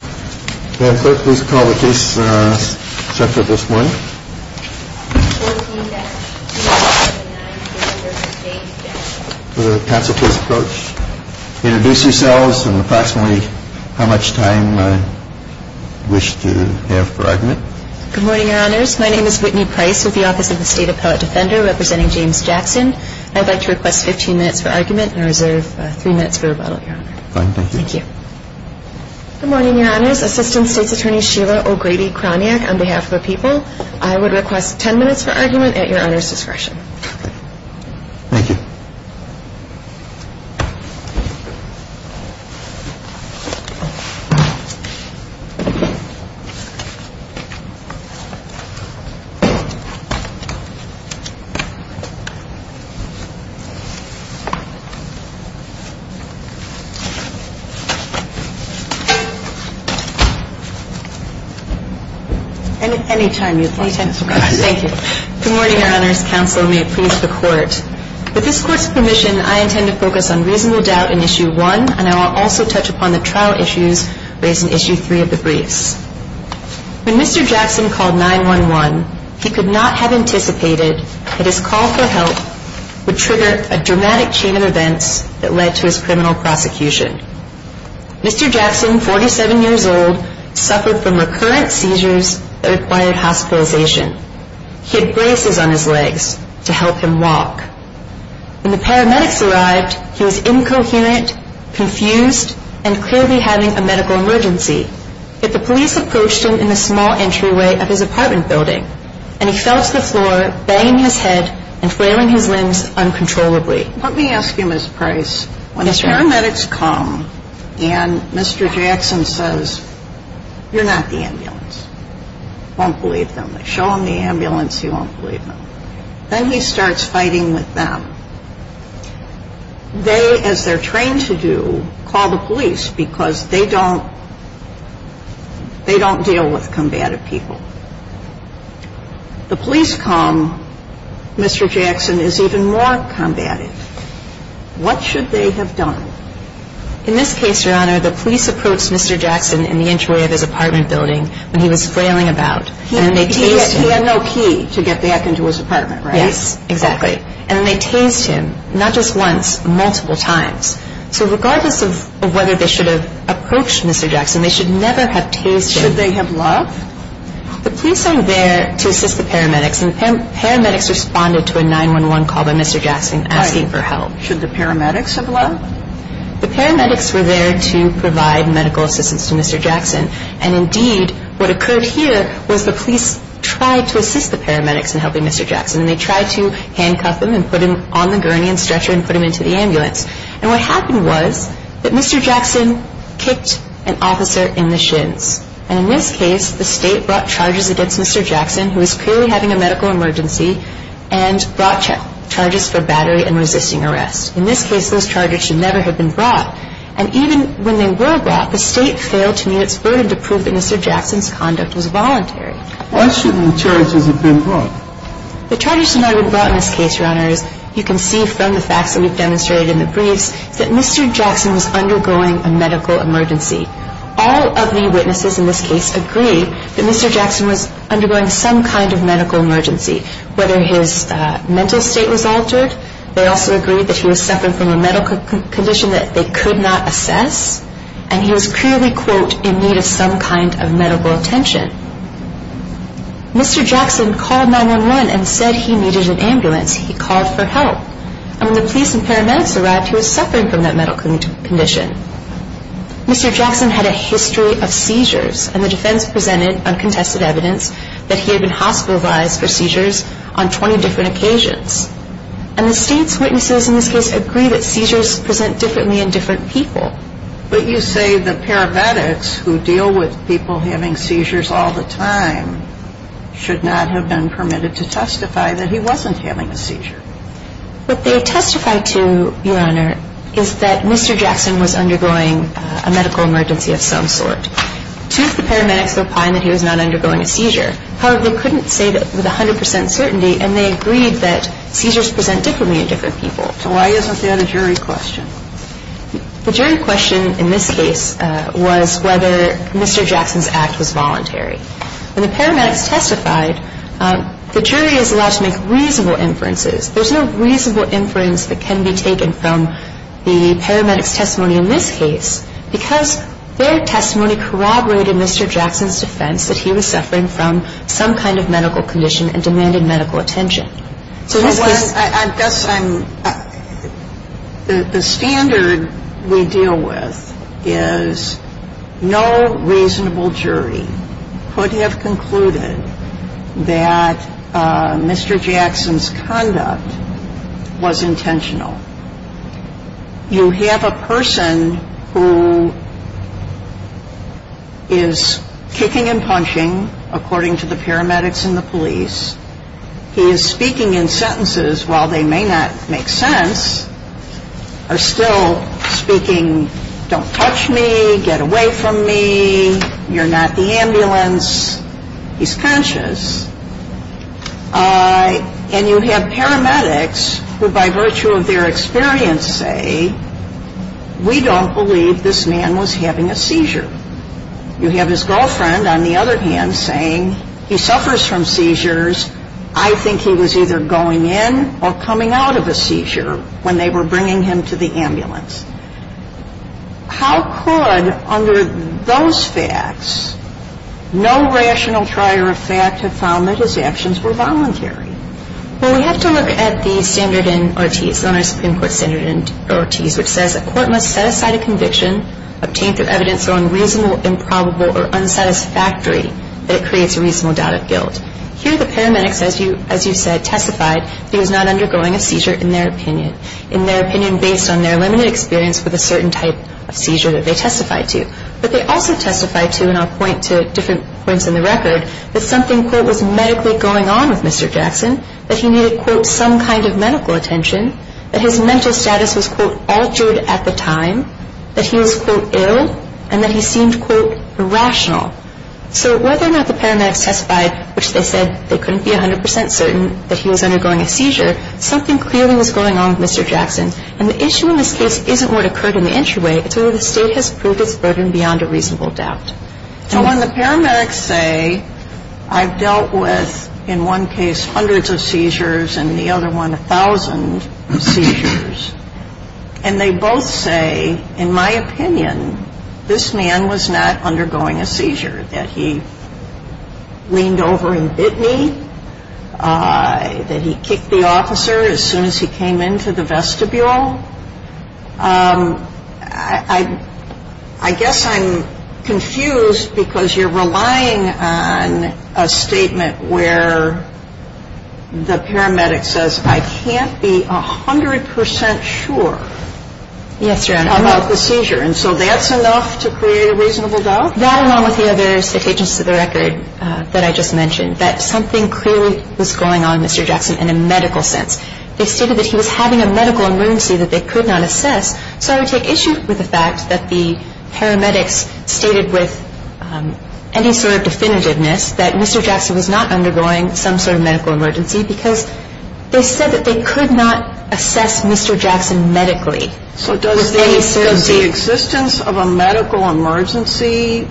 please call the case set for this morning. Counsel please approach. Introduce yourselves and approximately how much time you wish to have for argument. Good morning, Your Honors. My name is Whitney Price with the Office of the State Appellate Defender representing James Jackson. I'd like to request 15 minutes for argument and reserve three minutes for rebuttal, Your Honor. Fine. Thank you. Thank you. Good morning, Your Honors. Assistant State's Attorney Sheila O'Grady-Kroniak on behalf of the people. I would request 10 minutes for argument at Your Honor's discretion. Thank you. Any time you'd like. Any time is fine. Thank you. Good morning, Your Honors. Counsel may approve the court. With this court's permission, I intend to focus on reasonable doubt in Issue 1, and I will also touch upon the trial issues raised in Issue 3 of the briefs. When Mr. Jackson called 911, he could not have anticipated that his call for help would trigger a dramatic chain of events that led to his criminal prosecution. Mr. Jackson, 47 years old, suffered from recurrent seizures that required hospitalization. He had braces on his legs to help him walk. When the paramedics arrived, he was incoherent, confused, and clearly having a medical emergency. Yet the police approached him in the small entryway of his apartment building, and he fell to the floor, banging his head and flailing his limbs uncontrollably. Let me ask you, Ms. Price, when the paramedics come and Mr. Jackson says, you're not the ambulance, he won't believe them. They show him the ambulance, he won't believe them. Then he starts fighting with them. They, as they're trained to do, call the police because they don't deal with combative people. The police come, Mr. Jackson is even more combative. What should they have done? In this case, Your Honor, the police approached Mr. Jackson in the entryway of his apartment building when he was flailing about. He had no key to get back into his apartment, right? Yes, exactly. And they tased him, not just once, multiple times. So regardless of whether they should have approached Mr. Jackson, they should never have tased him. Should they have loved? The police are there to assist the paramedics, and the paramedics responded to a 911 call by Mr. Jackson asking for help. Should the paramedics have loved? The paramedics were there to provide medical assistance to Mr. Jackson, and indeed what occurred here was the police tried to assist the paramedics in helping Mr. Jackson, and they tried to handcuff him and put him on the gurney and stretcher and put him into the ambulance. And what happened was that Mr. Jackson kicked an officer in the shins. And in this case, the State brought charges against Mr. Jackson, who was clearly having a medical emergency, and brought charges for battery and resisting arrest. In this case, those charges should never have been brought. And even when they were brought, the State failed to meet its burden to prove that Mr. Jackson's conduct was voluntary. Why shouldn't the charges have been brought? The charges should not have been brought in this case, Your Honors. You can see from the facts that we've demonstrated in the briefs that Mr. Jackson was undergoing a medical emergency. All of the witnesses in this case agree that Mr. Jackson was undergoing some kind of medical emergency, whether his mental state was altered. They also agree that he was suffering from a medical condition that they could not assess, and he was clearly, quote, in need of some kind of medical attention. Mr. Jackson called 911 and said he needed an ambulance. He called for help. And when the police and paramedics arrived, he was suffering from that medical condition. Mr. Jackson had a history of seizures, and the defense presented uncontested evidence that he had been hospitalized for seizures on 20 different occasions. And the State's witnesses in this case agree that seizures present differently in different people. But you say the paramedics who deal with people having seizures all the time should not have been permitted to testify that he wasn't having a seizure. What they testified to, Your Honor, is that Mr. Jackson was undergoing a medical emergency of some sort. Two of the paramedics replied that he was not undergoing a seizure. However, they couldn't say that with 100 percent certainty, and they agreed that seizures present differently in different people. So why isn't that a jury question? The jury question in this case was whether Mr. Jackson's act was voluntary. When the paramedics testified, the jury is allowed to make reasonable inferences. There's no reasonable inference that can be taken from the paramedics' testimony in this case because their testimony corroborated Mr. Jackson's defense that he was suffering from some kind of medical condition and demanded medical attention. The standard we deal with is no reasonable jury could have concluded that Mr. Jackson's conduct was intentional. You have a person who is kicking and punching, according to the paramedics and the police. He is speaking in sentences, while they may not make sense, are still speaking, don't touch me, get away from me, you're not the ambulance. He's conscious. And you have paramedics who, by virtue of their experience, say, we don't believe this man was having a seizure. You have his girlfriend, on the other hand, saying he suffers from seizures. I think he was either going in or coming out of a seizure when they were bringing him to the ambulance. How could, under those facts, no rational trier of fact have found that his actions were voluntary? Well, we have to look at the standard in Ortiz, the Supreme Court standard in Ortiz, which says a court must set aside a conviction, obtain through evidence going reasonable, improbable, or unsatisfactory that it creates a reasonable doubt of guilt. Here the paramedics, as you said, testified that he was not undergoing a seizure, in their opinion, in their opinion based on their limited experience with a certain type of seizure that they testified to. But they also testified to, and I'll point to different points in the record, that something, quote, was medically going on with Mr. Jackson, that he needed, quote, some kind of medical attention, that his mental status was, quote, altered at the time, that he was, quote, ill, and that he seemed, quote, irrational. So whether or not the paramedics testified, which they said they couldn't be 100 percent certain that he was undergoing a seizure, something clearly was going on with Mr. Jackson. And the issue in this case isn't what occurred in the entryway. It's whether the State has proved its burden beyond a reasonable doubt. So when the paramedics say, I've dealt with, in one case, hundreds of seizures, and in the other one, a thousand seizures, and they both say, in my opinion, this man was not undergoing a seizure, that he leaned over and bit me, that he kicked the officer as soon as he came into the vestibule, I guess I'm confused because you're relying on a statement where the paramedic says, I can't be 100 percent sure about the seizure. And so that's enough to create a reasonable doubt? That, along with the other statements to the record that I just mentioned, that something clearly was going on with Mr. Jackson in a medical sense. They stated that he was having a medical emergency that they could not assess. So I would take issue with the fact that the paramedics stated with any sort of definitiveness that Mr. Jackson was not undergoing some sort of medical emergency because they said that they could not assess Mr. Jackson medically. So does the existence of a medical emergency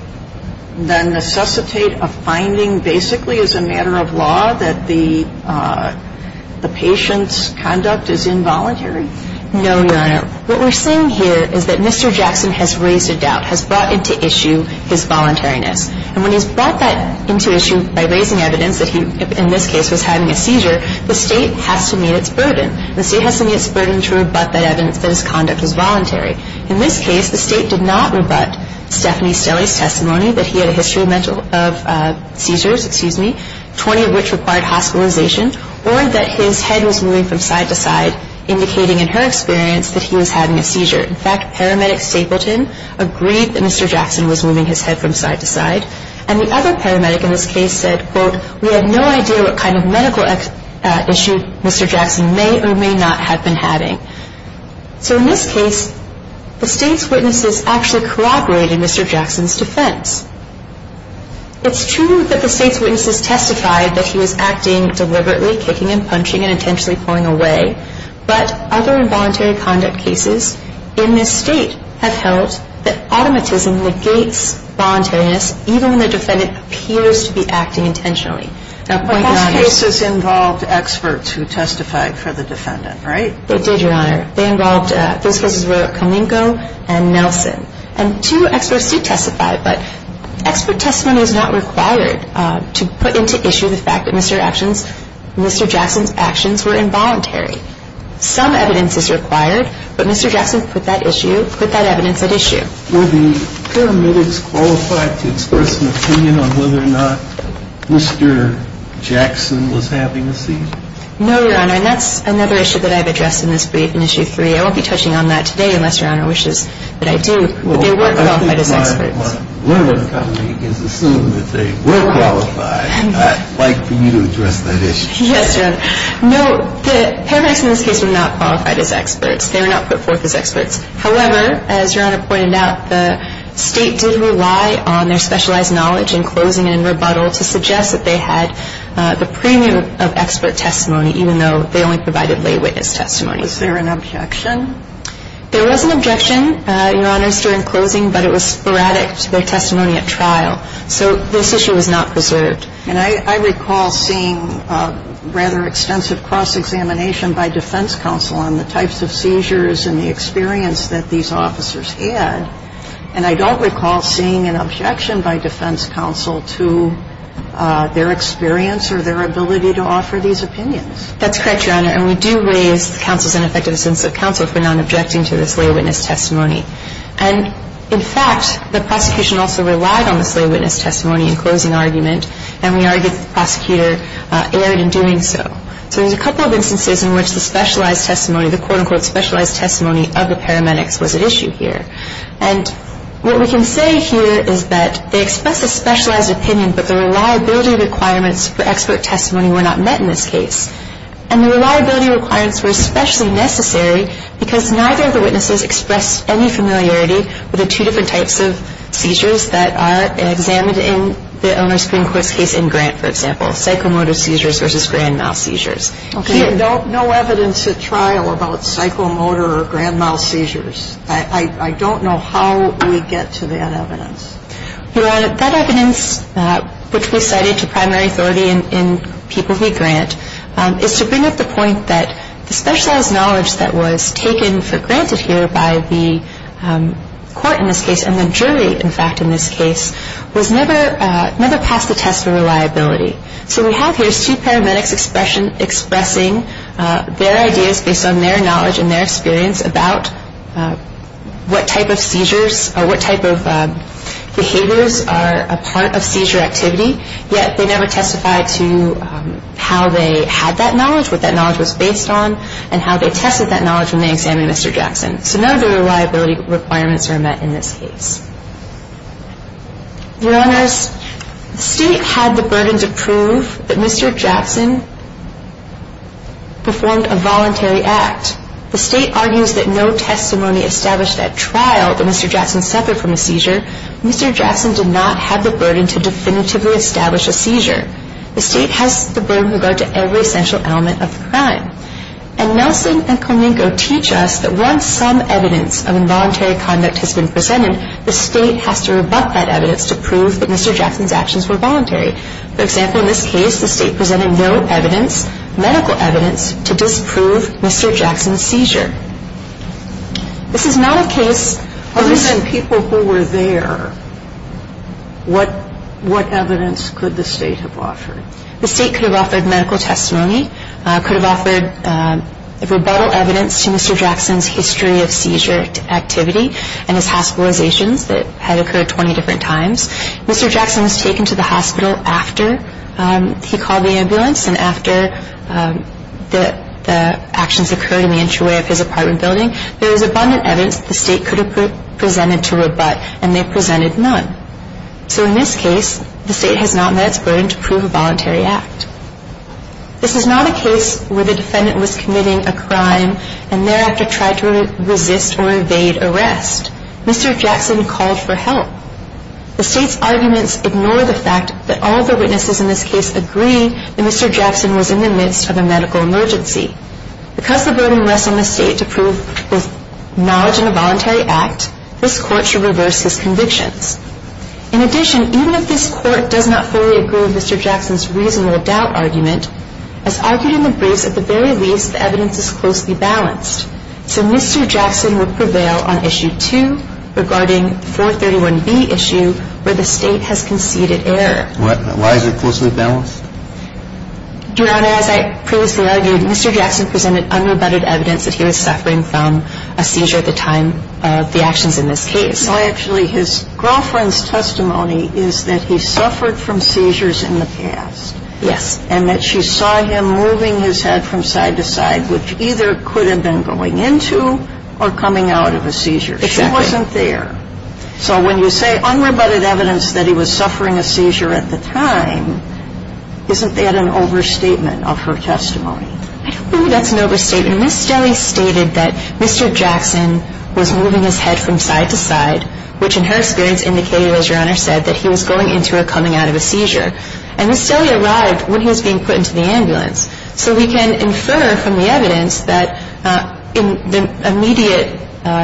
then necessitate a finding, basically as a matter of law, that the patient's conduct is involuntary? No, Your Honor. What we're saying here is that Mr. Jackson has raised a doubt, has brought into issue his voluntariness. And when he's brought that into issue by raising evidence that he, in this case, was having a seizure, the State has to meet its burden. The State has to meet its burden to rebut that evidence that his conduct was voluntary. In this case, the State did not rebut Stephanie Stelly's testimony that he had a history of seizures, 20 of which required hospitalization, or that his head was moving from side to side, indicating in her experience that he was having a seizure. In fact, paramedic Stapleton agreed that Mr. Jackson was moving his head from side to side. And the other paramedic in this case said, quote, we have no idea what kind of medical issue Mr. Jackson may or may not have been having. So in this case, the State's witnesses actually corroborated Mr. Jackson's defense. It's true that the State's witnesses testified that he was acting deliberately, kicking and punching, and intentionally pulling away. But other involuntary conduct cases in this State have held that automatism negates voluntariness, even when the defendant appears to be acting intentionally. Now, point beyond this. But most cases involved experts who testified for the defendant, right? They did, Your Honor. They involved, those cases were Koninko and Nelson. And two experts did testify, but expert testimony is not required to put into issue the fact that Mr. Jackson's actions were involuntary. Some evidence is required, but Mr. Jackson put that issue, put that evidence at issue. Were the paramedics qualified to express an opinion on whether or not Mr. Jackson was having a seizure? No, Your Honor. And that's another issue that I've addressed in this brief in Issue 3. I won't be touching on that today unless Your Honor wishes that I do. But they were qualified as experts. Well, I think my one comment is assume that they were qualified. I'd like for you to address that issue. Yes, Your Honor. No, the paramedics in this case were not qualified as experts. They were not put forth as experts. However, as Your Honor pointed out, the State did rely on their specialized knowledge in closing and in rebuttal to suggest that they had the premium of expert testimony, even though they only provided lay witness testimony. Was there an objection? There was an objection, Your Honor, during closing, but it was sporadic to their testimony at trial. So this issue was not preserved. And I recall seeing rather extensive cross-examination by defense counsel on the types of seizures and the experience that these officers had. And I don't recall seeing an objection by defense counsel to their experience or their ability to offer these opinions. That's correct, Your Honor. And we do raise counsel's ineffectiveness of counsel for not objecting to the slay witness testimony. And, in fact, the prosecution also relied on the slay witness testimony in closing argument, and we argued that the prosecutor erred in doing so. So there's a couple of instances in which the specialized testimony, the quote-unquote specialized testimony of the paramedics was at issue here. And what we can say here is that they expressed a specialized opinion, but the reliability requirements for expert testimony were not met in this case. And the reliability requirements were especially necessary because neither of the witnesses expressed any familiarity with the two different types of seizures that are examined in the Oner Supreme Court's case in Grant, for example, psychomotor seizures versus grand mal seizures. Okay. No evidence at trial about psychomotor or grand mal seizures. I don't know how we get to that evidence. Your Honor, that evidence, which we cited to primary authority in people who grant, is to bring up the point that the specialized knowledge that was taken for granted here by the court in this case, and the jury, in fact, in this case, was never passed the test of reliability. So we have here two paramedics expressing their ideas based on their knowledge and their experience about what type of seizures or what type of behaviors are a part of seizure activity, yet they never testified to how they had that knowledge, what that knowledge was based on, and how they tested that knowledge when they examined Mr. Jackson. So none of the reliability requirements are met in this case. Your Honors, the State had the burden to prove that Mr. Jackson performed a voluntary act. The State argues that no testimony established at trial that Mr. Jackson suffered from a seizure. Mr. Jackson did not have the burden to definitively establish a seizure. The State has the burden with regard to every essential element of the crime. And Nelson and Koninko teach us that once some evidence of involuntary conduct has been presented, the State has to rebut that evidence to prove that Mr. Jackson's actions were voluntary. For example, in this case, the State presented no evidence, medical evidence, to disprove Mr. Jackson's seizure. This is not a case of this. Alitzan, people who were there, what evidence could the State have offered? The State could have offered medical testimony, could have offered rebuttal evidence to Mr. Jackson's history of seizure activity and his hospitalizations that had occurred 20 different times. Mr. Jackson was taken to the hospital after he called the ambulance and after the actions occurred in the entryway of his apartment building. There was abundant evidence that the State could have presented to rebut, and they presented none. So in this case, the State has not met its burden to prove a voluntary act. This is not a case where the defendant was committing a crime and thereafter tried to resist or evade arrest. Mr. Jackson called for help. The State's arguments ignore the fact that all of the witnesses in this case agree that Mr. Jackson was in the midst of a medical emergency. Because the burden rests on the State to prove his knowledge in a voluntary act, this Court should reverse his convictions. In addition, even if this Court does not fully agree with Mr. Jackson's reasonable doubt argument, as argued in the briefs, at the very least, the evidence is closely balanced. So Mr. Jackson will prevail on Issue 2 regarding 431B issue where the State has conceded error. Why is it closely balanced? Your Honor, as I previously argued, Mr. Jackson presented unrebutted evidence that he was suffering from a seizure at the time of the actions in this case. No, actually, his girlfriend's testimony is that he suffered from seizures in the past. Yes. And that she saw him moving his head from side to side, which either could have been going into or coming out of a seizure. Exactly. If he wasn't there. So when you say unrebutted evidence that he was suffering a seizure at the time, isn't that an overstatement of her testimony? I don't think that's an overstatement. Ms. Stelle stated that Mr. Jackson was moving his head from side to side, which in her experience indicated, as Your Honor said, that he was going into or coming out of a seizure. And Ms. Stelle arrived when he was being put into the ambulance. So we can infer from the evidence that in the immediate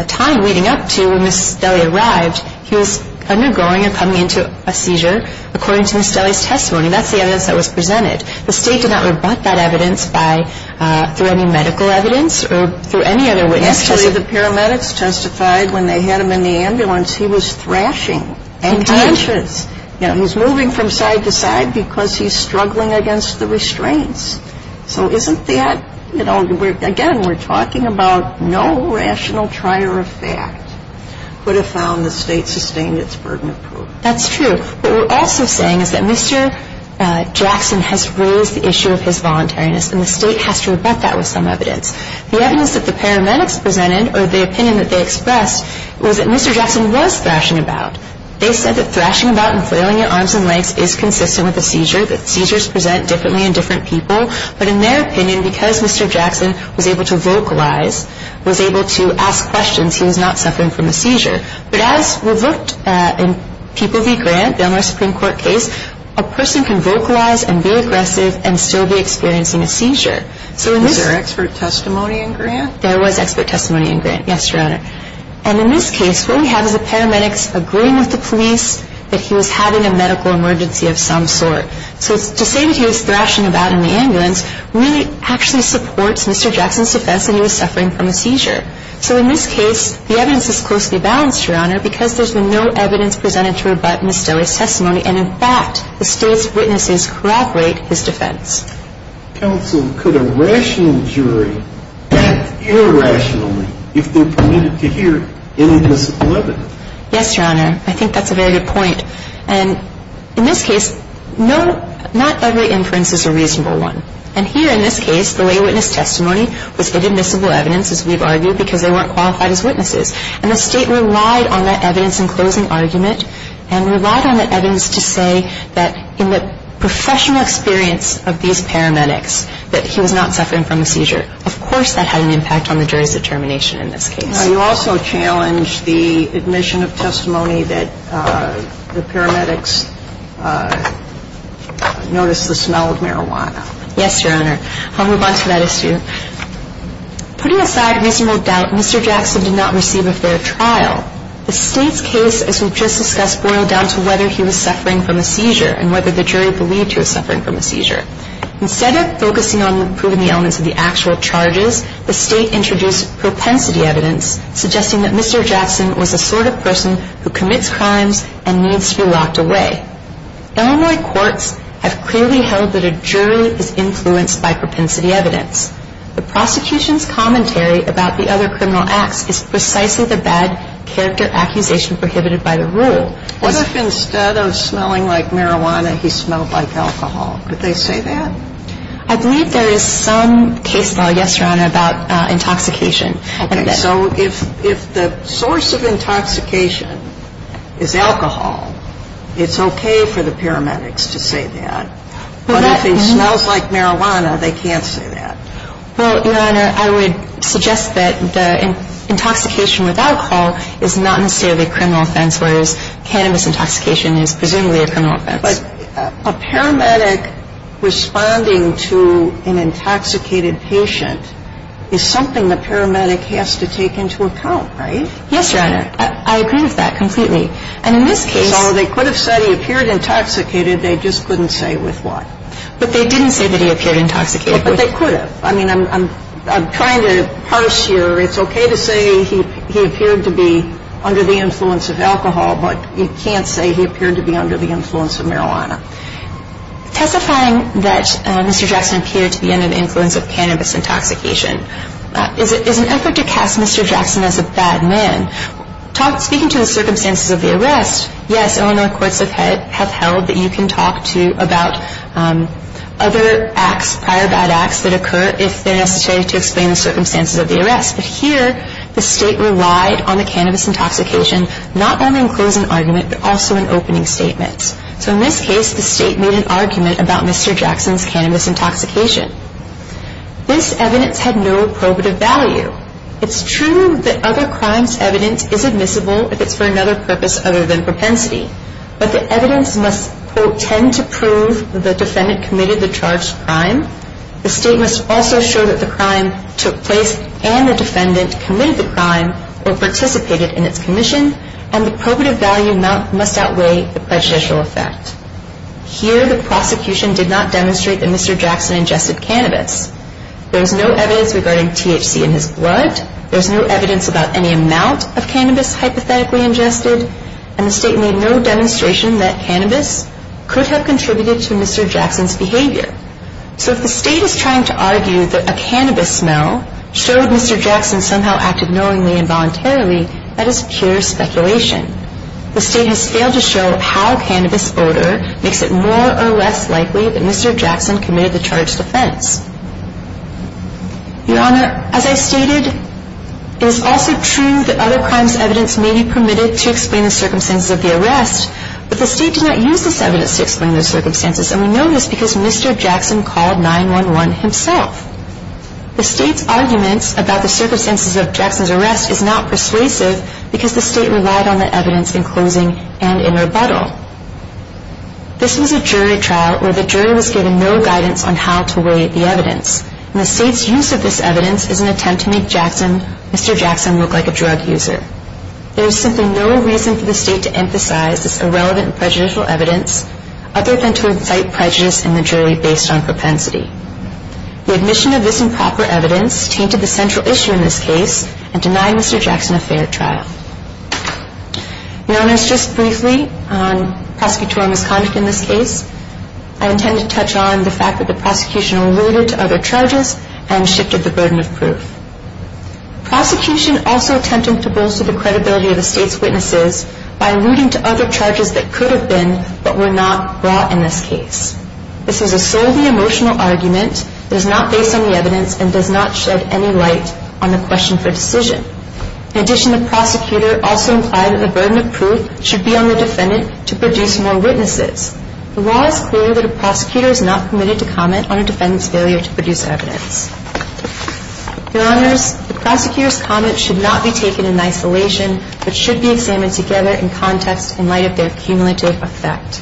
time leading up to when Ms. Stelle arrived, he was undergoing or coming into a seizure, according to Ms. Stelle's testimony. That's the evidence that was presented. The State did not rebut that evidence through any medical evidence or through any other witness. Actually, the paramedics testified when they had him in the ambulance he was thrashing. Indeed. And conscious. He was moving from side to side because he's struggling against the restraints. So isn't that, you know, again, we're talking about no rational trier of fact would have found the State sustained its burden of proof. That's true. What we're also saying is that Mr. Jackson has raised the issue of his voluntariness, and the State has to rebut that with some evidence. The evidence that the paramedics presented, or the opinion that they expressed, was that Mr. Jackson was thrashing about. They said that thrashing about and flailing your arms and legs is consistent with a seizure, that seizures present differently in different people. But in their opinion, because Mr. Jackson was able to vocalize, was able to ask questions, he was not suffering from a seizure. But as we've looked at in People v. Grant, the Elmhurst Supreme Court case, a person can vocalize and be aggressive and still be experiencing a seizure. Was there expert testimony in Grant? There was expert testimony in Grant. Yes, Your Honor. And in this case, what we have is the paramedics agreeing with the police that he was having a medical emergency of some sort. So to say that he was thrashing about in the ambulance really actually supports Mr. Jackson's defense that he was suffering from a seizure. So in this case, the evidence is closely balanced, Your Honor, because there's been no evidence presented to rebut Mr. Lee's testimony. And in fact, the State's witnesses corroborate his defense. Counsel, could a rational jury act irrationally if they're permitted to hear inadmissible evidence? Yes, Your Honor. I think that's a very good point. And in this case, not every inference is a reasonable one. And here in this case, the lay witness testimony was inadmissible evidence, as we've argued, because they weren't qualified as witnesses. And the State relied on that evidence in closing argument and relied on that evidence to say that in the professional experience of these paramedics that he was not suffering from a seizure. Of course that had an impact on the jury's determination in this case. Now, you also challenged the admission of testimony that the paramedics noticed the smell of marijuana. Yes, Your Honor. I'll move on to that issue. Putting aside reasonable doubt, Mr. Jackson did not receive a fair trial. The State's case, as we've just discussed, boiled down to whether he was suffering from a seizure and whether the jury believed he was suffering from a seizure. Instead of focusing on proving the elements of the actual charges, the State introduced propensity evidence, suggesting that Mr. Jackson was the sort of person who commits crimes and needs to be locked away. Illinois courts have clearly held that a jury is influenced by propensity evidence. The prosecution's commentary about the other criminal acts is precisely the bad character accusation prohibited by the rule. What if instead of smelling like marijuana, he smelled like alcohol? Could they say that? I believe there is some case law, yes, Your Honor, about intoxication. Okay. So if the source of intoxication is alcohol, it's okay for the paramedics to say that. But if he smells like marijuana, they can't say that. Well, Your Honor, I would suggest that the intoxication with alcohol is not necessarily a criminal offense, whereas cannabis intoxication is presumably a criminal offense. But a paramedic responding to an intoxicated patient is something the paramedic has to take into account, right? Yes, Your Honor. I agree with that completely. And in this case they could have said he appeared intoxicated. They just couldn't say with what. But they didn't say that he appeared intoxicated. But they could have. I mean, I'm trying to parse here. It's okay to say he appeared to be under the influence of alcohol, but you can't say he appeared to be under the influence of marijuana. Testifying that Mr. Jackson appeared to be under the influence of cannabis intoxication is an effort to cast Mr. Jackson as a bad man. Speaking to the circumstances of the arrest, yes, Illinois courts have held that you can talk to about other acts, prior bad acts, that occur if they're necessary to explain the circumstances of the arrest. But here the State relied on the cannabis intoxication not only in closing argument but also in opening statements. So in this case the State made an argument about Mr. Jackson's cannabis intoxication. This evidence had no probative value. It's true that other crimes' evidence is admissible if it's for another purpose other than propensity. But the evidence must, quote, tend to prove that the defendant committed the charged crime. The State must also show that the crime took place and the defendant committed the crime or participated in its commission. And the probative value must outweigh the prejudicial effect. Here the prosecution did not demonstrate that Mr. Jackson ingested cannabis. There is no evidence regarding THC in his blood. There is no evidence about any amount of cannabis hypothetically ingested. And the State made no demonstration that cannabis could have contributed to Mr. Jackson's behavior. So if the State is trying to argue that a cannabis smell showed Mr. Jackson somehow acted knowingly and voluntarily, that is pure speculation. The State has failed to show how cannabis odor makes it more or less likely that Mr. Jackson committed the charged offense. Your Honor, as I stated, it is also true that other crimes' evidence may be permitted to explain the circumstances of the arrest, but the State did not use this evidence to explain those circumstances. And we know this because Mr. Jackson called 911 himself. The State's argument about the circumstances of Jackson's arrest is not persuasive because the State relied on the evidence in closing and in rebuttal. This was a jury trial where the jury was given no guidance on how to weigh the evidence. And the State's use of this evidence is an attempt to make Mr. Jackson look like a drug user. There is simply no reason for the State to emphasize this irrelevant and prejudicial evidence other than to incite prejudice in the jury based on propensity. The admission of this improper evidence tainted the central issue in this case and denied Mr. Jackson a fair trial. Your Honor, just briefly on prosecutorial misconduct in this case, I intend to touch on the fact that the prosecution alluded to other charges and shifted the burden of proof. Prosecution also attempted to bolster the credibility of the State's witnesses by alluding to other charges that could have been, but were not, brought in this case. This is a solely emotional argument that is not based on the evidence and does not shed any light on the question for decision. In addition, the prosecutor also implied that the burden of proof should be on the defendant to produce more witnesses. The law is clear that a prosecutor is not committed to comment on a defendant's failure to produce evidence. Your Honors, the prosecutor's comment should not be taken in isolation, but should be examined together in context in light of their cumulative effect.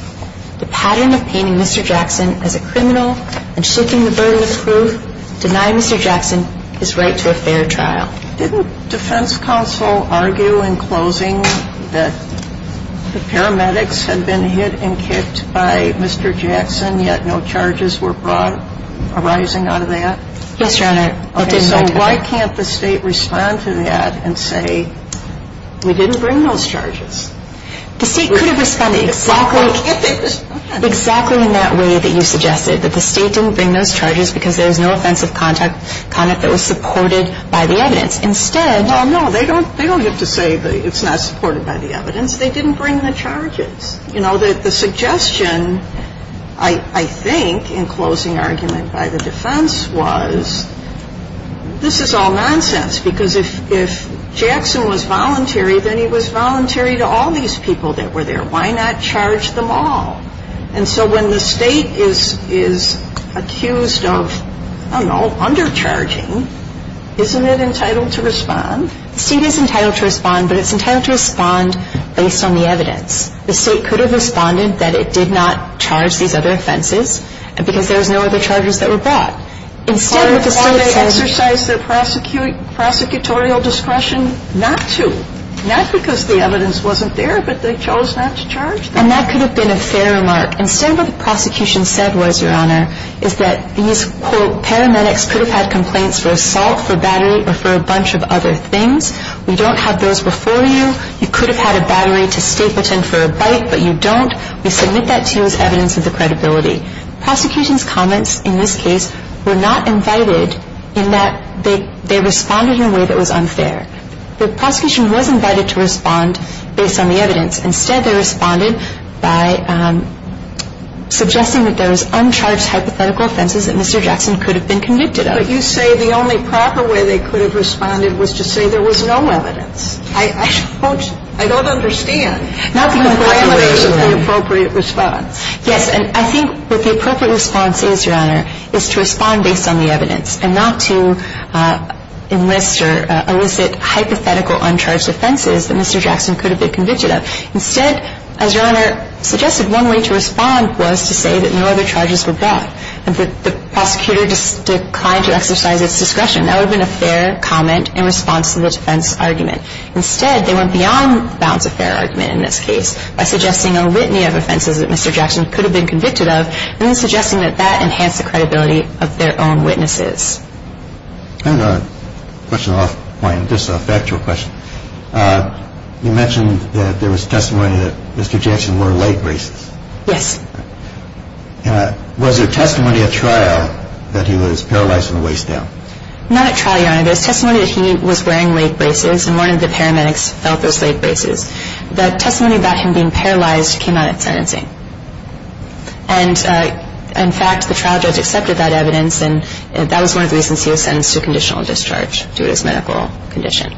The pattern of painting Mr. Jackson as a criminal and shifting the burden of proof denied Mr. Jackson his right to a fair trial. Didn't defense counsel argue in closing that the paramedics had been hit and kicked by Mr. Jackson yet no charges were brought arising out of that? Yes, Your Honor. Okay, so why can't the State respond to that and say we didn't bring those charges? The State could have responded exactly in that way that you suggested, that the State didn't bring those charges because there was no offensive conduct that was supported by the evidence. Well, no, they don't have to say it's not supported by the evidence. They didn't bring the charges. You know, the suggestion I think in closing argument by the defense was this is all nonsense because if Jackson was voluntary, then he was voluntary to all these people that were there. Why not charge them all? And so when the State is accused of, I don't know, undercharging, isn't it entitled to respond? The State is entitled to respond, but it's entitled to respond based on the evidence. The State could have responded that it did not charge these other offenses because there was no other charges that were brought. Instead, what the State says — Or they exercised their prosecutorial discretion not to, not because the evidence wasn't there, but they chose not to charge them. And that could have been a fair remark. Instead, what the prosecution said was, Your Honor, is that these, quote, paramedics could have had complaints for assault, for battery, or for a bunch of other things. We don't have those before you. You could have had a battery to stay put in for a bite, but you don't. We submit that to you as evidence of the credibility. Prosecution's comments in this case were not invited in that they responded in a way that was unfair. The prosecution was invited to respond based on the evidence. In this case, they responded by suggesting that there was uncharged hypothetical offenses that Mr. Jackson could have been convicted of. But you say the only proper way they could have responded was to say there was no evidence. I don't — I don't understand. Not the appropriate response. And I think what the appropriate response is, Your Honor, is to respond based on the evidence and not to enlist or elicit hypothetical uncharged offenses that Mr. Jackson could have been convicted of. Instead, as Your Honor suggested, one way to respond was to say that no other charges were brought and that the prosecutor declined to exercise its discretion. That would have been a fair comment in response to the defense argument. Instead, they went beyond the bounds of fair argument in this case by suggesting a litany of offenses that Mr. Jackson could have been convicted of and then suggesting that that enhanced the credibility of their own witnesses. And a question off-point, just a factual question. You mentioned that there was testimony that Mr. Jackson wore leg braces. Yes. Was there testimony at trial that he was paralyzed from the waist down? Not at trial, Your Honor. There was testimony that he was wearing leg braces and one of the paramedics felt those leg braces. The testimony about him being paralyzed came out at sentencing. And, in fact, the trial judge accepted that evidence and that was one of the reasons he was sentenced to conditional discharge due to his medical condition.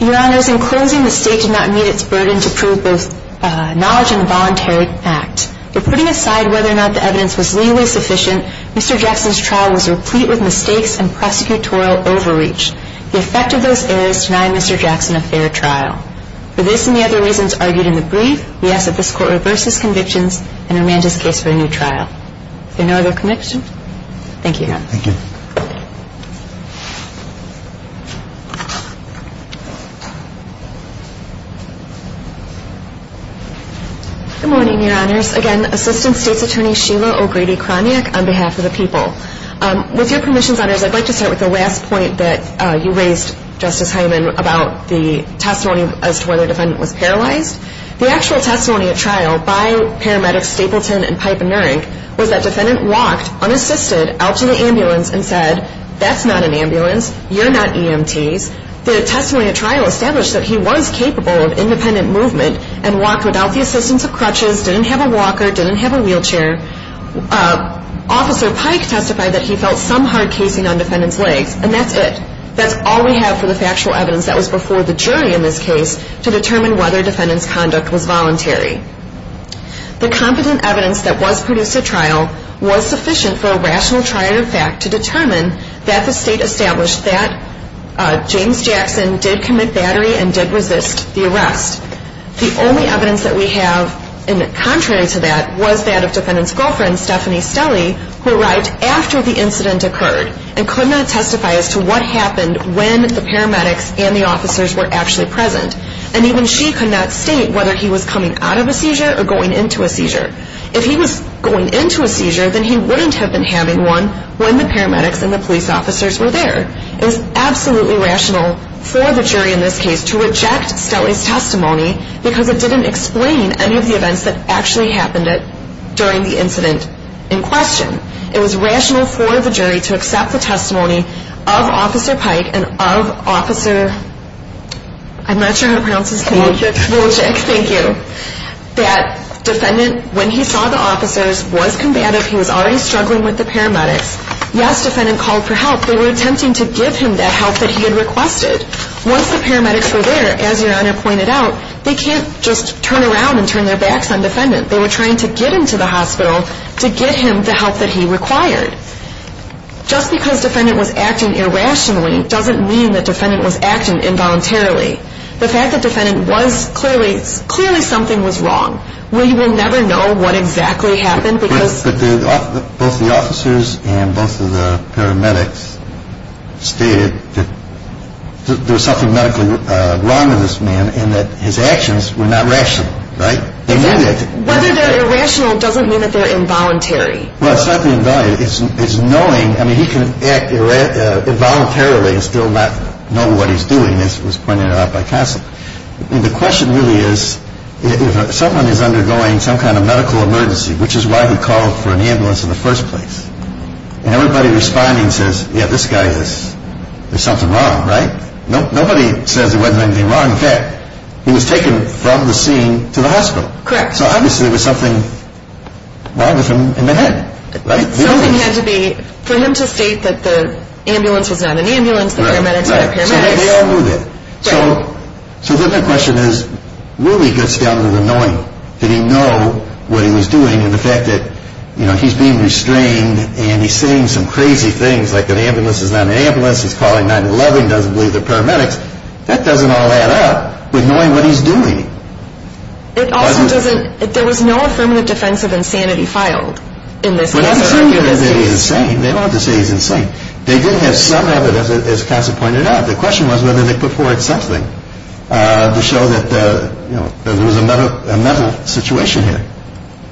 Your Honors, in closing, the State did not meet its burden to prove both knowledge and the voluntary act. For putting aside whether or not the evidence was legally sufficient, Mr. Jackson's trial was replete with mistakes and prosecutorial overreach. The effect of those errors denied Mr. Jackson a fair trial. For this and the other reasons argued in the brief, we ask that this Court reverse his convictions and amend his case for a new trial. Are there no other questions? Thank you, Your Honor. Thank you. Good morning, Your Honors. Again, Assistant State's Attorney Sheila O'Grady-Kroniak on behalf of the people. With your permissions, Honors, I'd like to start with the last point that you raised, Justice Heilman, about the testimony as to whether the defendant was paralyzed. The actual testimony at trial by paramedics Stapleton and Pipe and Nurink was that the defendant walked, unassisted, out to the ambulance and said, that's not an ambulance, you're not EMTs. The testimony at trial established that he was capable of independent movement and walked without the assistance of crutches, didn't have a walker, didn't have a wheelchair. Officer Pike testified that he felt some hard casing on the defendant's legs, and that's it. That's all we have for the factual evidence that was before the jury in this case to determine whether defendant's conduct was voluntary. The competent evidence that was produced at trial was sufficient for a rational trial, in fact, to determine that the State established that James Jackson did commit battery and did resist the arrest. The only evidence that we have contrary to that was that of defendant's girlfriend, Stephanie Stelly, who arrived after the incident occurred and could not testify as to what happened when the paramedics and the officers were actually present. And even she could not state whether he was coming out of a seizure or going into a seizure. If he was going into a seizure, then he wouldn't have been having one when the paramedics and the police officers were there. It was absolutely rational for the jury in this case to reject Stelly's testimony because it didn't explain any of the events that actually happened during the incident in question. It was rational for the jury to accept the testimony of Officer Pike and of Officer... I'm not sure how to pronounce his name. Wolczyk. Wolczyk, thank you. That defendant, when he saw the officers, was combative. He was already struggling with the paramedics. Yes, defendant called for help. They were attempting to give him that help that he had requested. Once the paramedics were there, as Your Honor pointed out, they can't just turn around and turn their backs on defendant. They were trying to get him to the hospital to get him the help that he required. Just because defendant was acting irrationally doesn't mean that defendant was acting involuntarily. The fact that defendant was clearly something was wrong. We will never know what exactly happened because... Both the officers and both of the paramedics stated that there was something medically wrong in this man and that his actions were not rational, right? Whether they're irrational doesn't mean that they're involuntary. Well, it's not involuntary. It's knowing, I mean, he can act involuntarily and still not know what he's doing, as was pointed out by counsel. The question really is if someone is undergoing some kind of medical emergency, which is why he called for an ambulance in the first place. And everybody responding says, yeah, this guy is, there's something wrong, right? Nobody says there wasn't anything wrong with that. He was taken from the scene to the hospital. Correct. So obviously there was something wrong with him in the head, right? Something had to be, for him to state that the ambulance was not an ambulance, the paramedics were not paramedics. So they all knew that. So then the question is, really gets down to the knowing, did he know what he was doing and the fact that he's being restrained and he's saying some crazy things like an ambulance is not an ambulance, he's calling 911, doesn't believe the paramedics, that doesn't all add up with knowing what he's doing. It also doesn't, there was no affirmative defense of insanity filed in this case. They don't have to say he's insane, they don't have to say he's insane. They did have some evidence, as Cassa pointed out, the question was whether they put forward something to show that, you know, there was a mental situation here.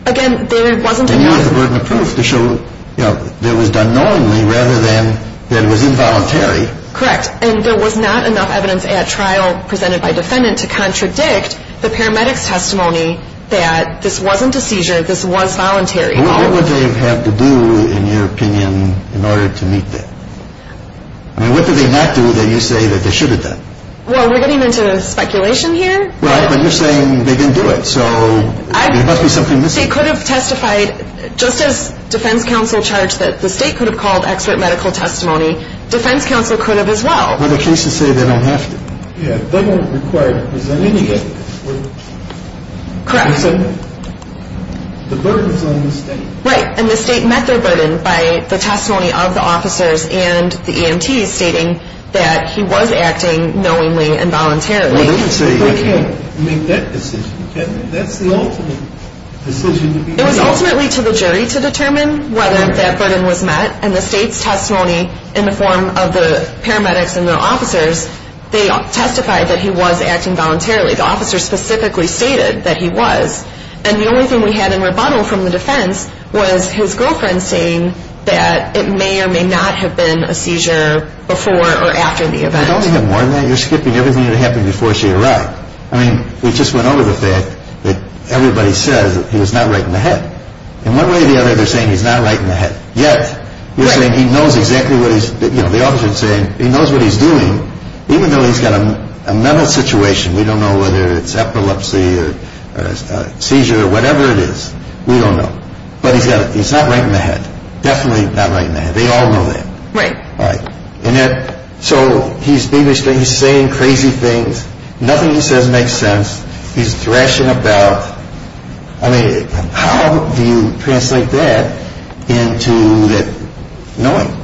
Again, there wasn't enough evidence. They used the burden of proof to show, you know, that it was done knowingly rather than that it was involuntary. Correct. And there was not enough evidence at trial presented by defendant to contradict the paramedics' testimony that this wasn't a seizure, this was voluntary. What would they have to do, in your opinion, in order to meet that? I mean, what do they not do that you say that they shouldn't have done? Well, we're getting into speculation here. Right, but you're saying they didn't do it, so there must be something missing. They could have testified just as defense counsel charged that the state could have called expert medical testimony, defense counsel could have as well. But the cases say they don't have to. Yeah, they weren't required to present any evidence. Correct. The burden was on the state. Right, and the state met their burden by the testimony of the officers and the EMTs stating that he was acting knowingly and voluntarily. But they didn't say you can't make that decision, can you? That's the ultimate decision to be made. It was ultimately to the jury to determine whether that burden was met, and the state's testimony in the form of the paramedics and their officers, they testified that he was acting voluntarily. The officers specifically stated that he was. And the only thing we had in rebuttal from the defense was his girlfriend saying that it may or may not have been a seizure before or after the event. You don't need more than that. You're skipping everything that happened before she arrived. I mean, we just went over the fact that everybody says he was not right in the head. In one way or the other, they're saying he's not right in the head. Yet, you're saying he knows exactly what he's, you know, the officer's saying, he knows what he's doing, even though he's got a mental situation. We don't know whether it's epilepsy or seizure or whatever it is. We don't know. But he's not right in the head. Definitely not right in the head. They all know that. Right. Right. And yet, so he's saying crazy things. Nothing he says makes sense. He's thrashing about. I mean, how do you translate that into knowing?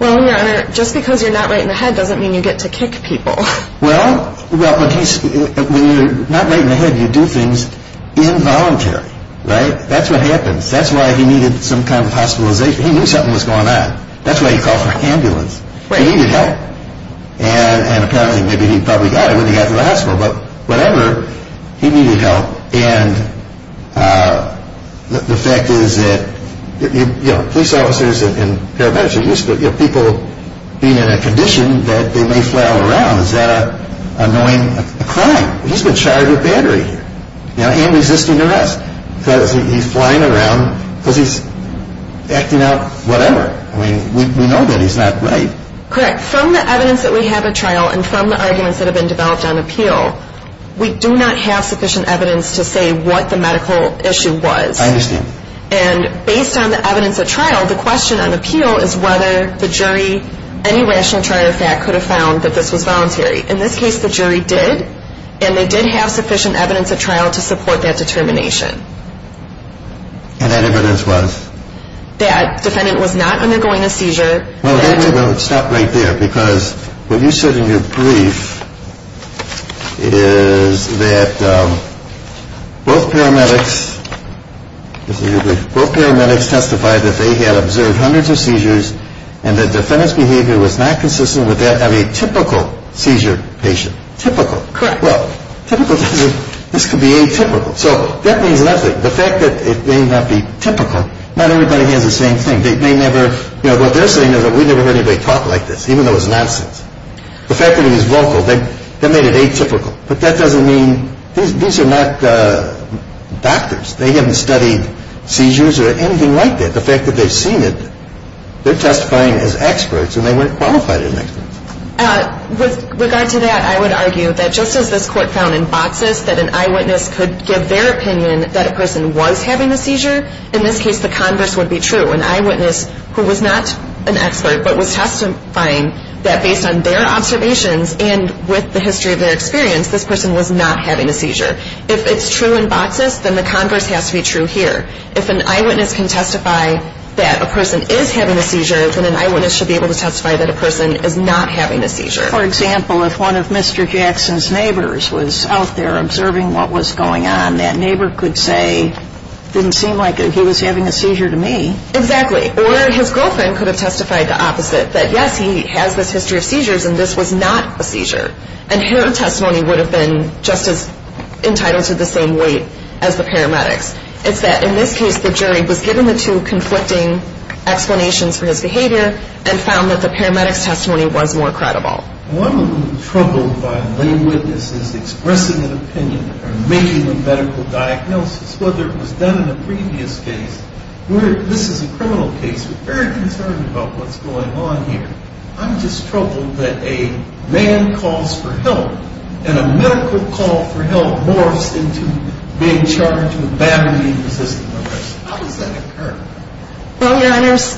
Well, Your Honor, just because you're not right in the head doesn't mean you get to kick people. Well, when you're not right in the head, you do things involuntarily. Right? That's what happens. That's why he needed some kind of hospitalization. He knew something was going on. That's why he called for an ambulance. Right. He needed help. And apparently maybe he probably got it when he got to the hospital. But whatever, he needed help. And the fact is that police officers and paramedics are used to people being in a condition that they may flail around. Is that annoying a crime? He's been charged with battery and resisting arrest because he's flying around, because he's acting out whatever. I mean, we know that he's not right. Correct. From the evidence that we have at trial and from the arguments that have been developed on appeal, we do not have sufficient evidence to say what the medical issue was. I understand. And based on the evidence at trial, the question on appeal is whether the jury, any rational trial or fact, could have found that this was voluntary. In this case, the jury did, and they did have sufficient evidence at trial to support that determination. And that evidence was? That defendant was not undergoing a seizure. Well, stop right there. Because what you said in your brief is that both paramedics testified that they had observed hundreds of seizures and that defendant's behavior was not consistent with that of a typical seizure patient. Typical. Correct. Well, typical doesn't, this could be atypical. So that means nothing. The fact that it may not be typical, not everybody has the same thing. They may never, you know, what they're saying is that we've never heard anybody talk like this, even though it's nonsense. The fact that it was vocal, that made it atypical. But that doesn't mean, these are not doctors. They haven't studied seizures or anything like that. The fact that they've seen it, they're testifying as experts and they weren't qualified as experts. With regard to that, I would argue that just as this court found in boxes that an eyewitness could give their opinion that a person was having a seizure, in this case the converse would be true. An eyewitness who was not an expert but was testifying that based on their observations and with the history of their experience, this person was not having a seizure. If it's true in boxes, then the converse has to be true here. If an eyewitness can testify that a person is having a seizure, then an eyewitness should be able to testify that a person is not having a seizure. For example, if one of Mr. Jackson's neighbors was out there observing what was going on, that neighbor could say, it didn't seem like he was having a seizure to me. Exactly. Or his girlfriend could have testified the opposite, that yes, he has this history of seizures and this was not a seizure. And her testimony would have been just as entitled to the same weight as the paramedics. It's that in this case, the jury was given the two conflicting explanations for his behavior and found that the paramedics' testimony was more credible. Well, I'm a little troubled by lay witnesses expressing an opinion or making a medical diagnosis, whether it was done in a previous case. This is a criminal case. We're very concerned about what's going on here. I'm just troubled that a man calls for help and a medical call for help morphs into being charged with battery-resistant arrest. How does that occur? Well, Your Honors,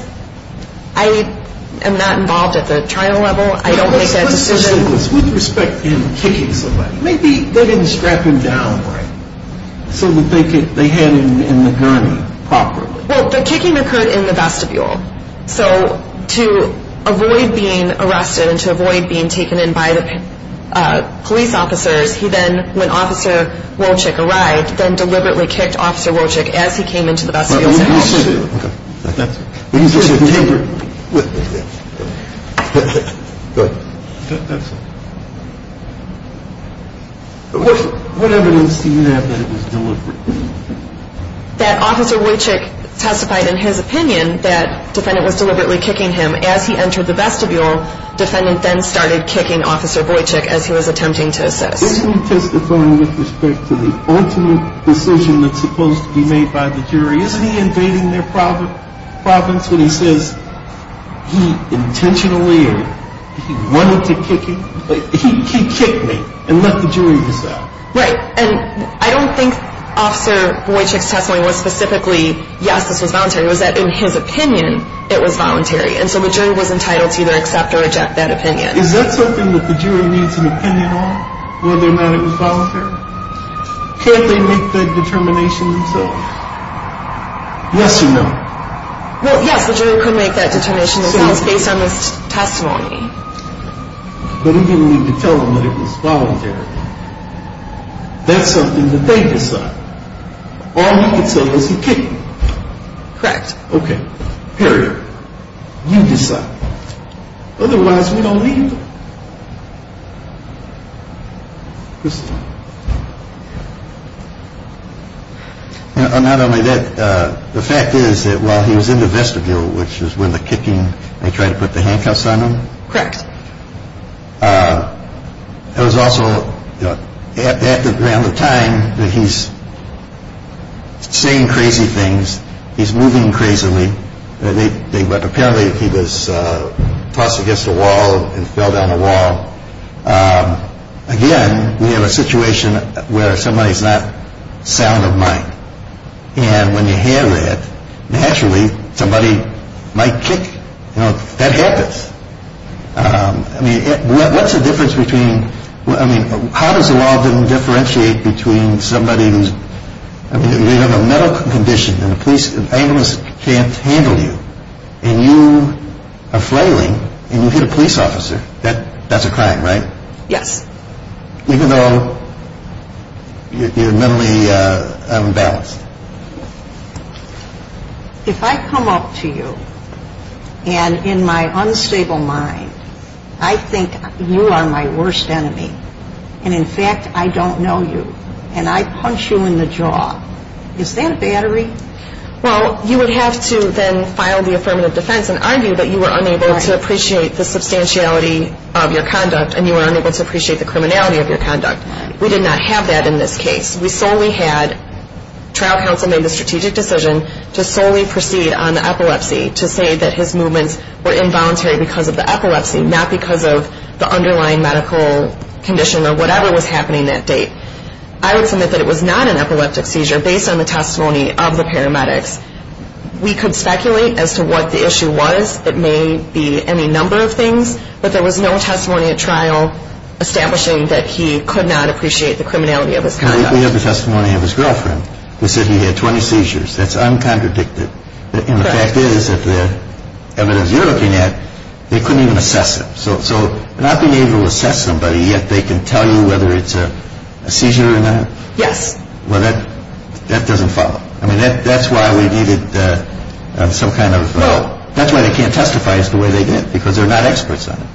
I am not involved at the trial level. I don't make that decision. With respect in kicking somebody, maybe they didn't strap him down right, so that they had him in the gurney properly. Well, the kicking occurred in the vestibule. So to avoid being arrested and to avoid being taken in by the police officers, he then, when Officer Wojcik arrived, then deliberately kicked Officer Wojcik as he came into the vestibule. What evidence do you have that it was deliberate? That Officer Wojcik testified in his opinion that the defendant was deliberately kicking him. As he entered the vestibule, the defendant then started kicking Officer Wojcik as he was attempting to assist. Isn't he testifying with respect to the ultimate decision that's supposed to be made by the jury? Isn't he invading their province when he says he intentionally or he wanted to kick him? He kicked me and left the jury to decide. Right. And I don't think Officer Wojcik's testimony was specifically, yes, this was voluntary. It was that in his opinion it was voluntary. And so the jury was entitled to either accept or reject that opinion. Is that something that the jury needs an opinion on, whether or not it was voluntary? Can't they make that determination themselves? Yes or no? Well, yes, the jury can make that determination themselves based on this testimony. But he didn't need to tell them that it was voluntary. That's something that they decide. All he could say was he kicked me. Correct. Okay. Period. You decide. Otherwise we don't leave. Not only that, the fact is that while he was in the vestibule, which is when the kicking, they try to put the handcuffs on him. Correct. It was also at the time that he's saying crazy things. He's moving crazily. Apparently he was tossed against the wall and fell down the wall. Again, we have a situation where somebody's not sound of mind. And when you have that, naturally somebody might kick. That happens. I mean, what's the difference between, I mean, how does the law differentiate between somebody who's, I mean, you have a mental condition and the police and ambulance can't handle you, and you are flailing and you hit a police officer, that's a crime, right? Yes. Even though you're mentally unbalanced. If I come up to you and in my unstable mind I think you are my worst enemy, and in fact I don't know you, and I punch you in the jaw, is that a battery? Well, you would have to then file the affirmative defense and argue that you were unable to appreciate the substantiality of your conduct and you were unable to appreciate the criminality of your conduct. We did not have that in this case. We solely had trial counsel make the strategic decision to solely proceed on the epilepsy, to say that his movements were involuntary because of the epilepsy, not because of the underlying medical condition or whatever was happening that day. I would submit that it was not an epileptic seizure based on the testimony of the paramedics. We could speculate as to what the issue was. It may be any number of things, but there was no testimony at trial establishing that he could not appreciate the criminality of his conduct. We have the testimony of his girlfriend who said he had 20 seizures. That's uncontradicted. And the fact is that the evidence you're looking at, they couldn't even assess it. So not being able to assess somebody, yet they can tell you whether it's a seizure or not? Yes. Well, that doesn't follow. I mean, that's why we needed some kind of... Well... That's why they can't testify as to the way they did, because they're not experts on it.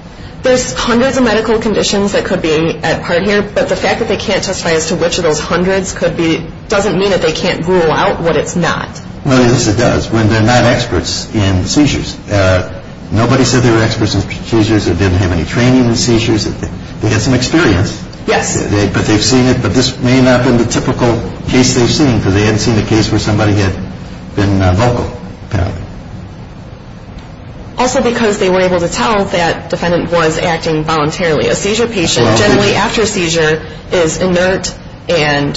There's hundreds of medical conditions that could be at part here, but the fact that they can't testify as to which of those hundreds could be doesn't mean that they can't rule out what it's not. Well, yes, it does, when they're not experts in seizures. Nobody said they were experts in seizures or didn't have any training in seizures. They had some experience. Yes. But they've seen it. But this may not have been the typical case they've seen, because they hadn't seen a case where somebody had been vocal, apparently. Also because they were able to tell that defendant was acting voluntarily. A seizure patient, generally after a seizure, is inert, and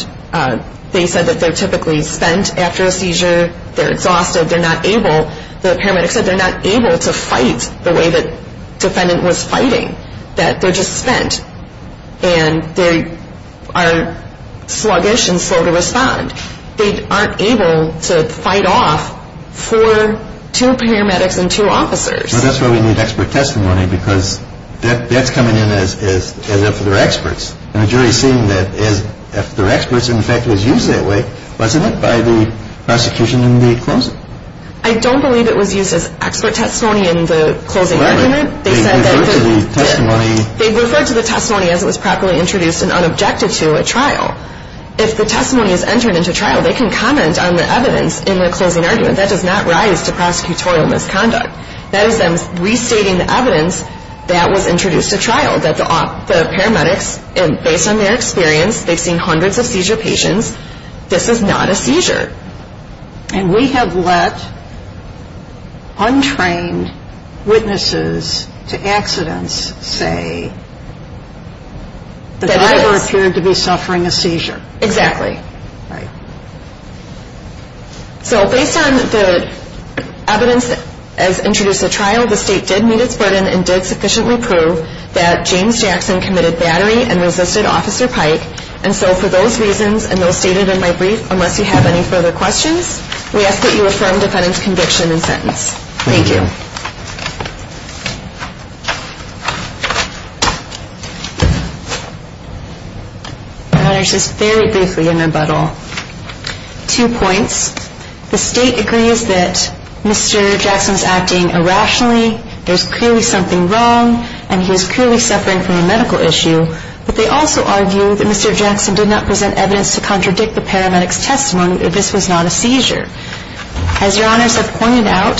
they said that they're typically spent after a seizure. They're exhausted. They're not able. The paramedics said they're not able to fight the way the defendant was fighting, that they're just spent, and they are sluggish and slow to respond. They aren't able to fight off for two paramedics and two officers. Well, that's why we need expert testimony, because that's coming in as if they're experts. And the jury is saying that if they're experts and the fact was used that way, wasn't it by the prosecution in the closing? I don't believe it was used as expert testimony in the closing argument. They referred to the testimony as it was properly introduced and unobjected to at trial. If the testimony is entered into trial, they can comment on the evidence in the closing argument. That does not rise to prosecutorial misconduct. That is them restating the evidence that was introduced at trial, that the paramedics, based on their experience, they've seen hundreds of seizure patients. This is not a seizure. And we have let untrained witnesses to accidents say the driver appeared to be suffering a seizure. Exactly. Right. So based on the evidence as introduced at trial, the state did meet its burden and did sufficiently prove that James Jackson committed battery and resisted Officer Pike. And so for those reasons, and those stated in my brief, unless you have any further questions, we ask that you affirm defendant's conviction and sentence. Thank you. Your Honor, just very briefly in rebuttal, two points. The state agrees that Mr. Jackson's acting irrationally. There's clearly something wrong, and he was clearly suffering from a medical issue. But they also argue that Mr. Jackson did not present evidence to contradict the paramedics' testimony that this was not a seizure. As Your Honor has pointed out,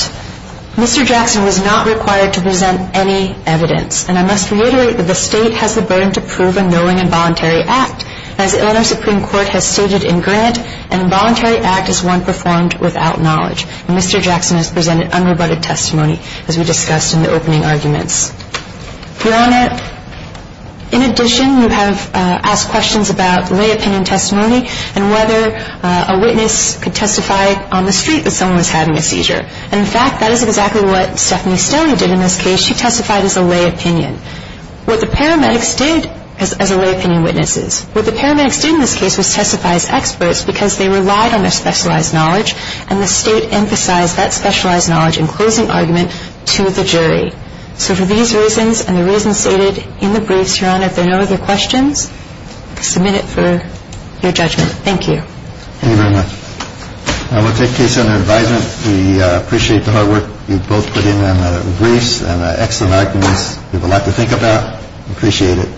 Mr. Jackson was not required to present any evidence. And I must reiterate that the state has the burden to prove a knowing involuntary act, as the Illinois Supreme Court has stated in Grant, an involuntary act is one performed without knowledge. And Mr. Jackson has presented unrebutted testimony, as we discussed in the opening arguments. Your Honor, in addition, you have asked questions about lay opinion testimony and whether a witness could testify on the street that someone was having a seizure. And in fact, that is exactly what Stephanie Stelly did in this case. She testified as a lay opinion. What the paramedics did as lay opinion witnesses, what the paramedics did in this case was testify as experts because they relied on their specialized knowledge, and the state emphasized that specialized knowledge in closing argument to the jury. So for these reasons and the reasons stated in the briefs, Your Honor, if there are no other questions, I submit it for your judgment. Thank you. Thank you very much. I will take case under advisement. We appreciate the hard work you both put in on the briefs and the excellent arguments. We have a lot to think about. We appreciate it.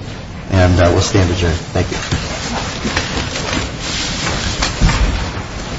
And we'll stand adjourned. Thank you. Thank you.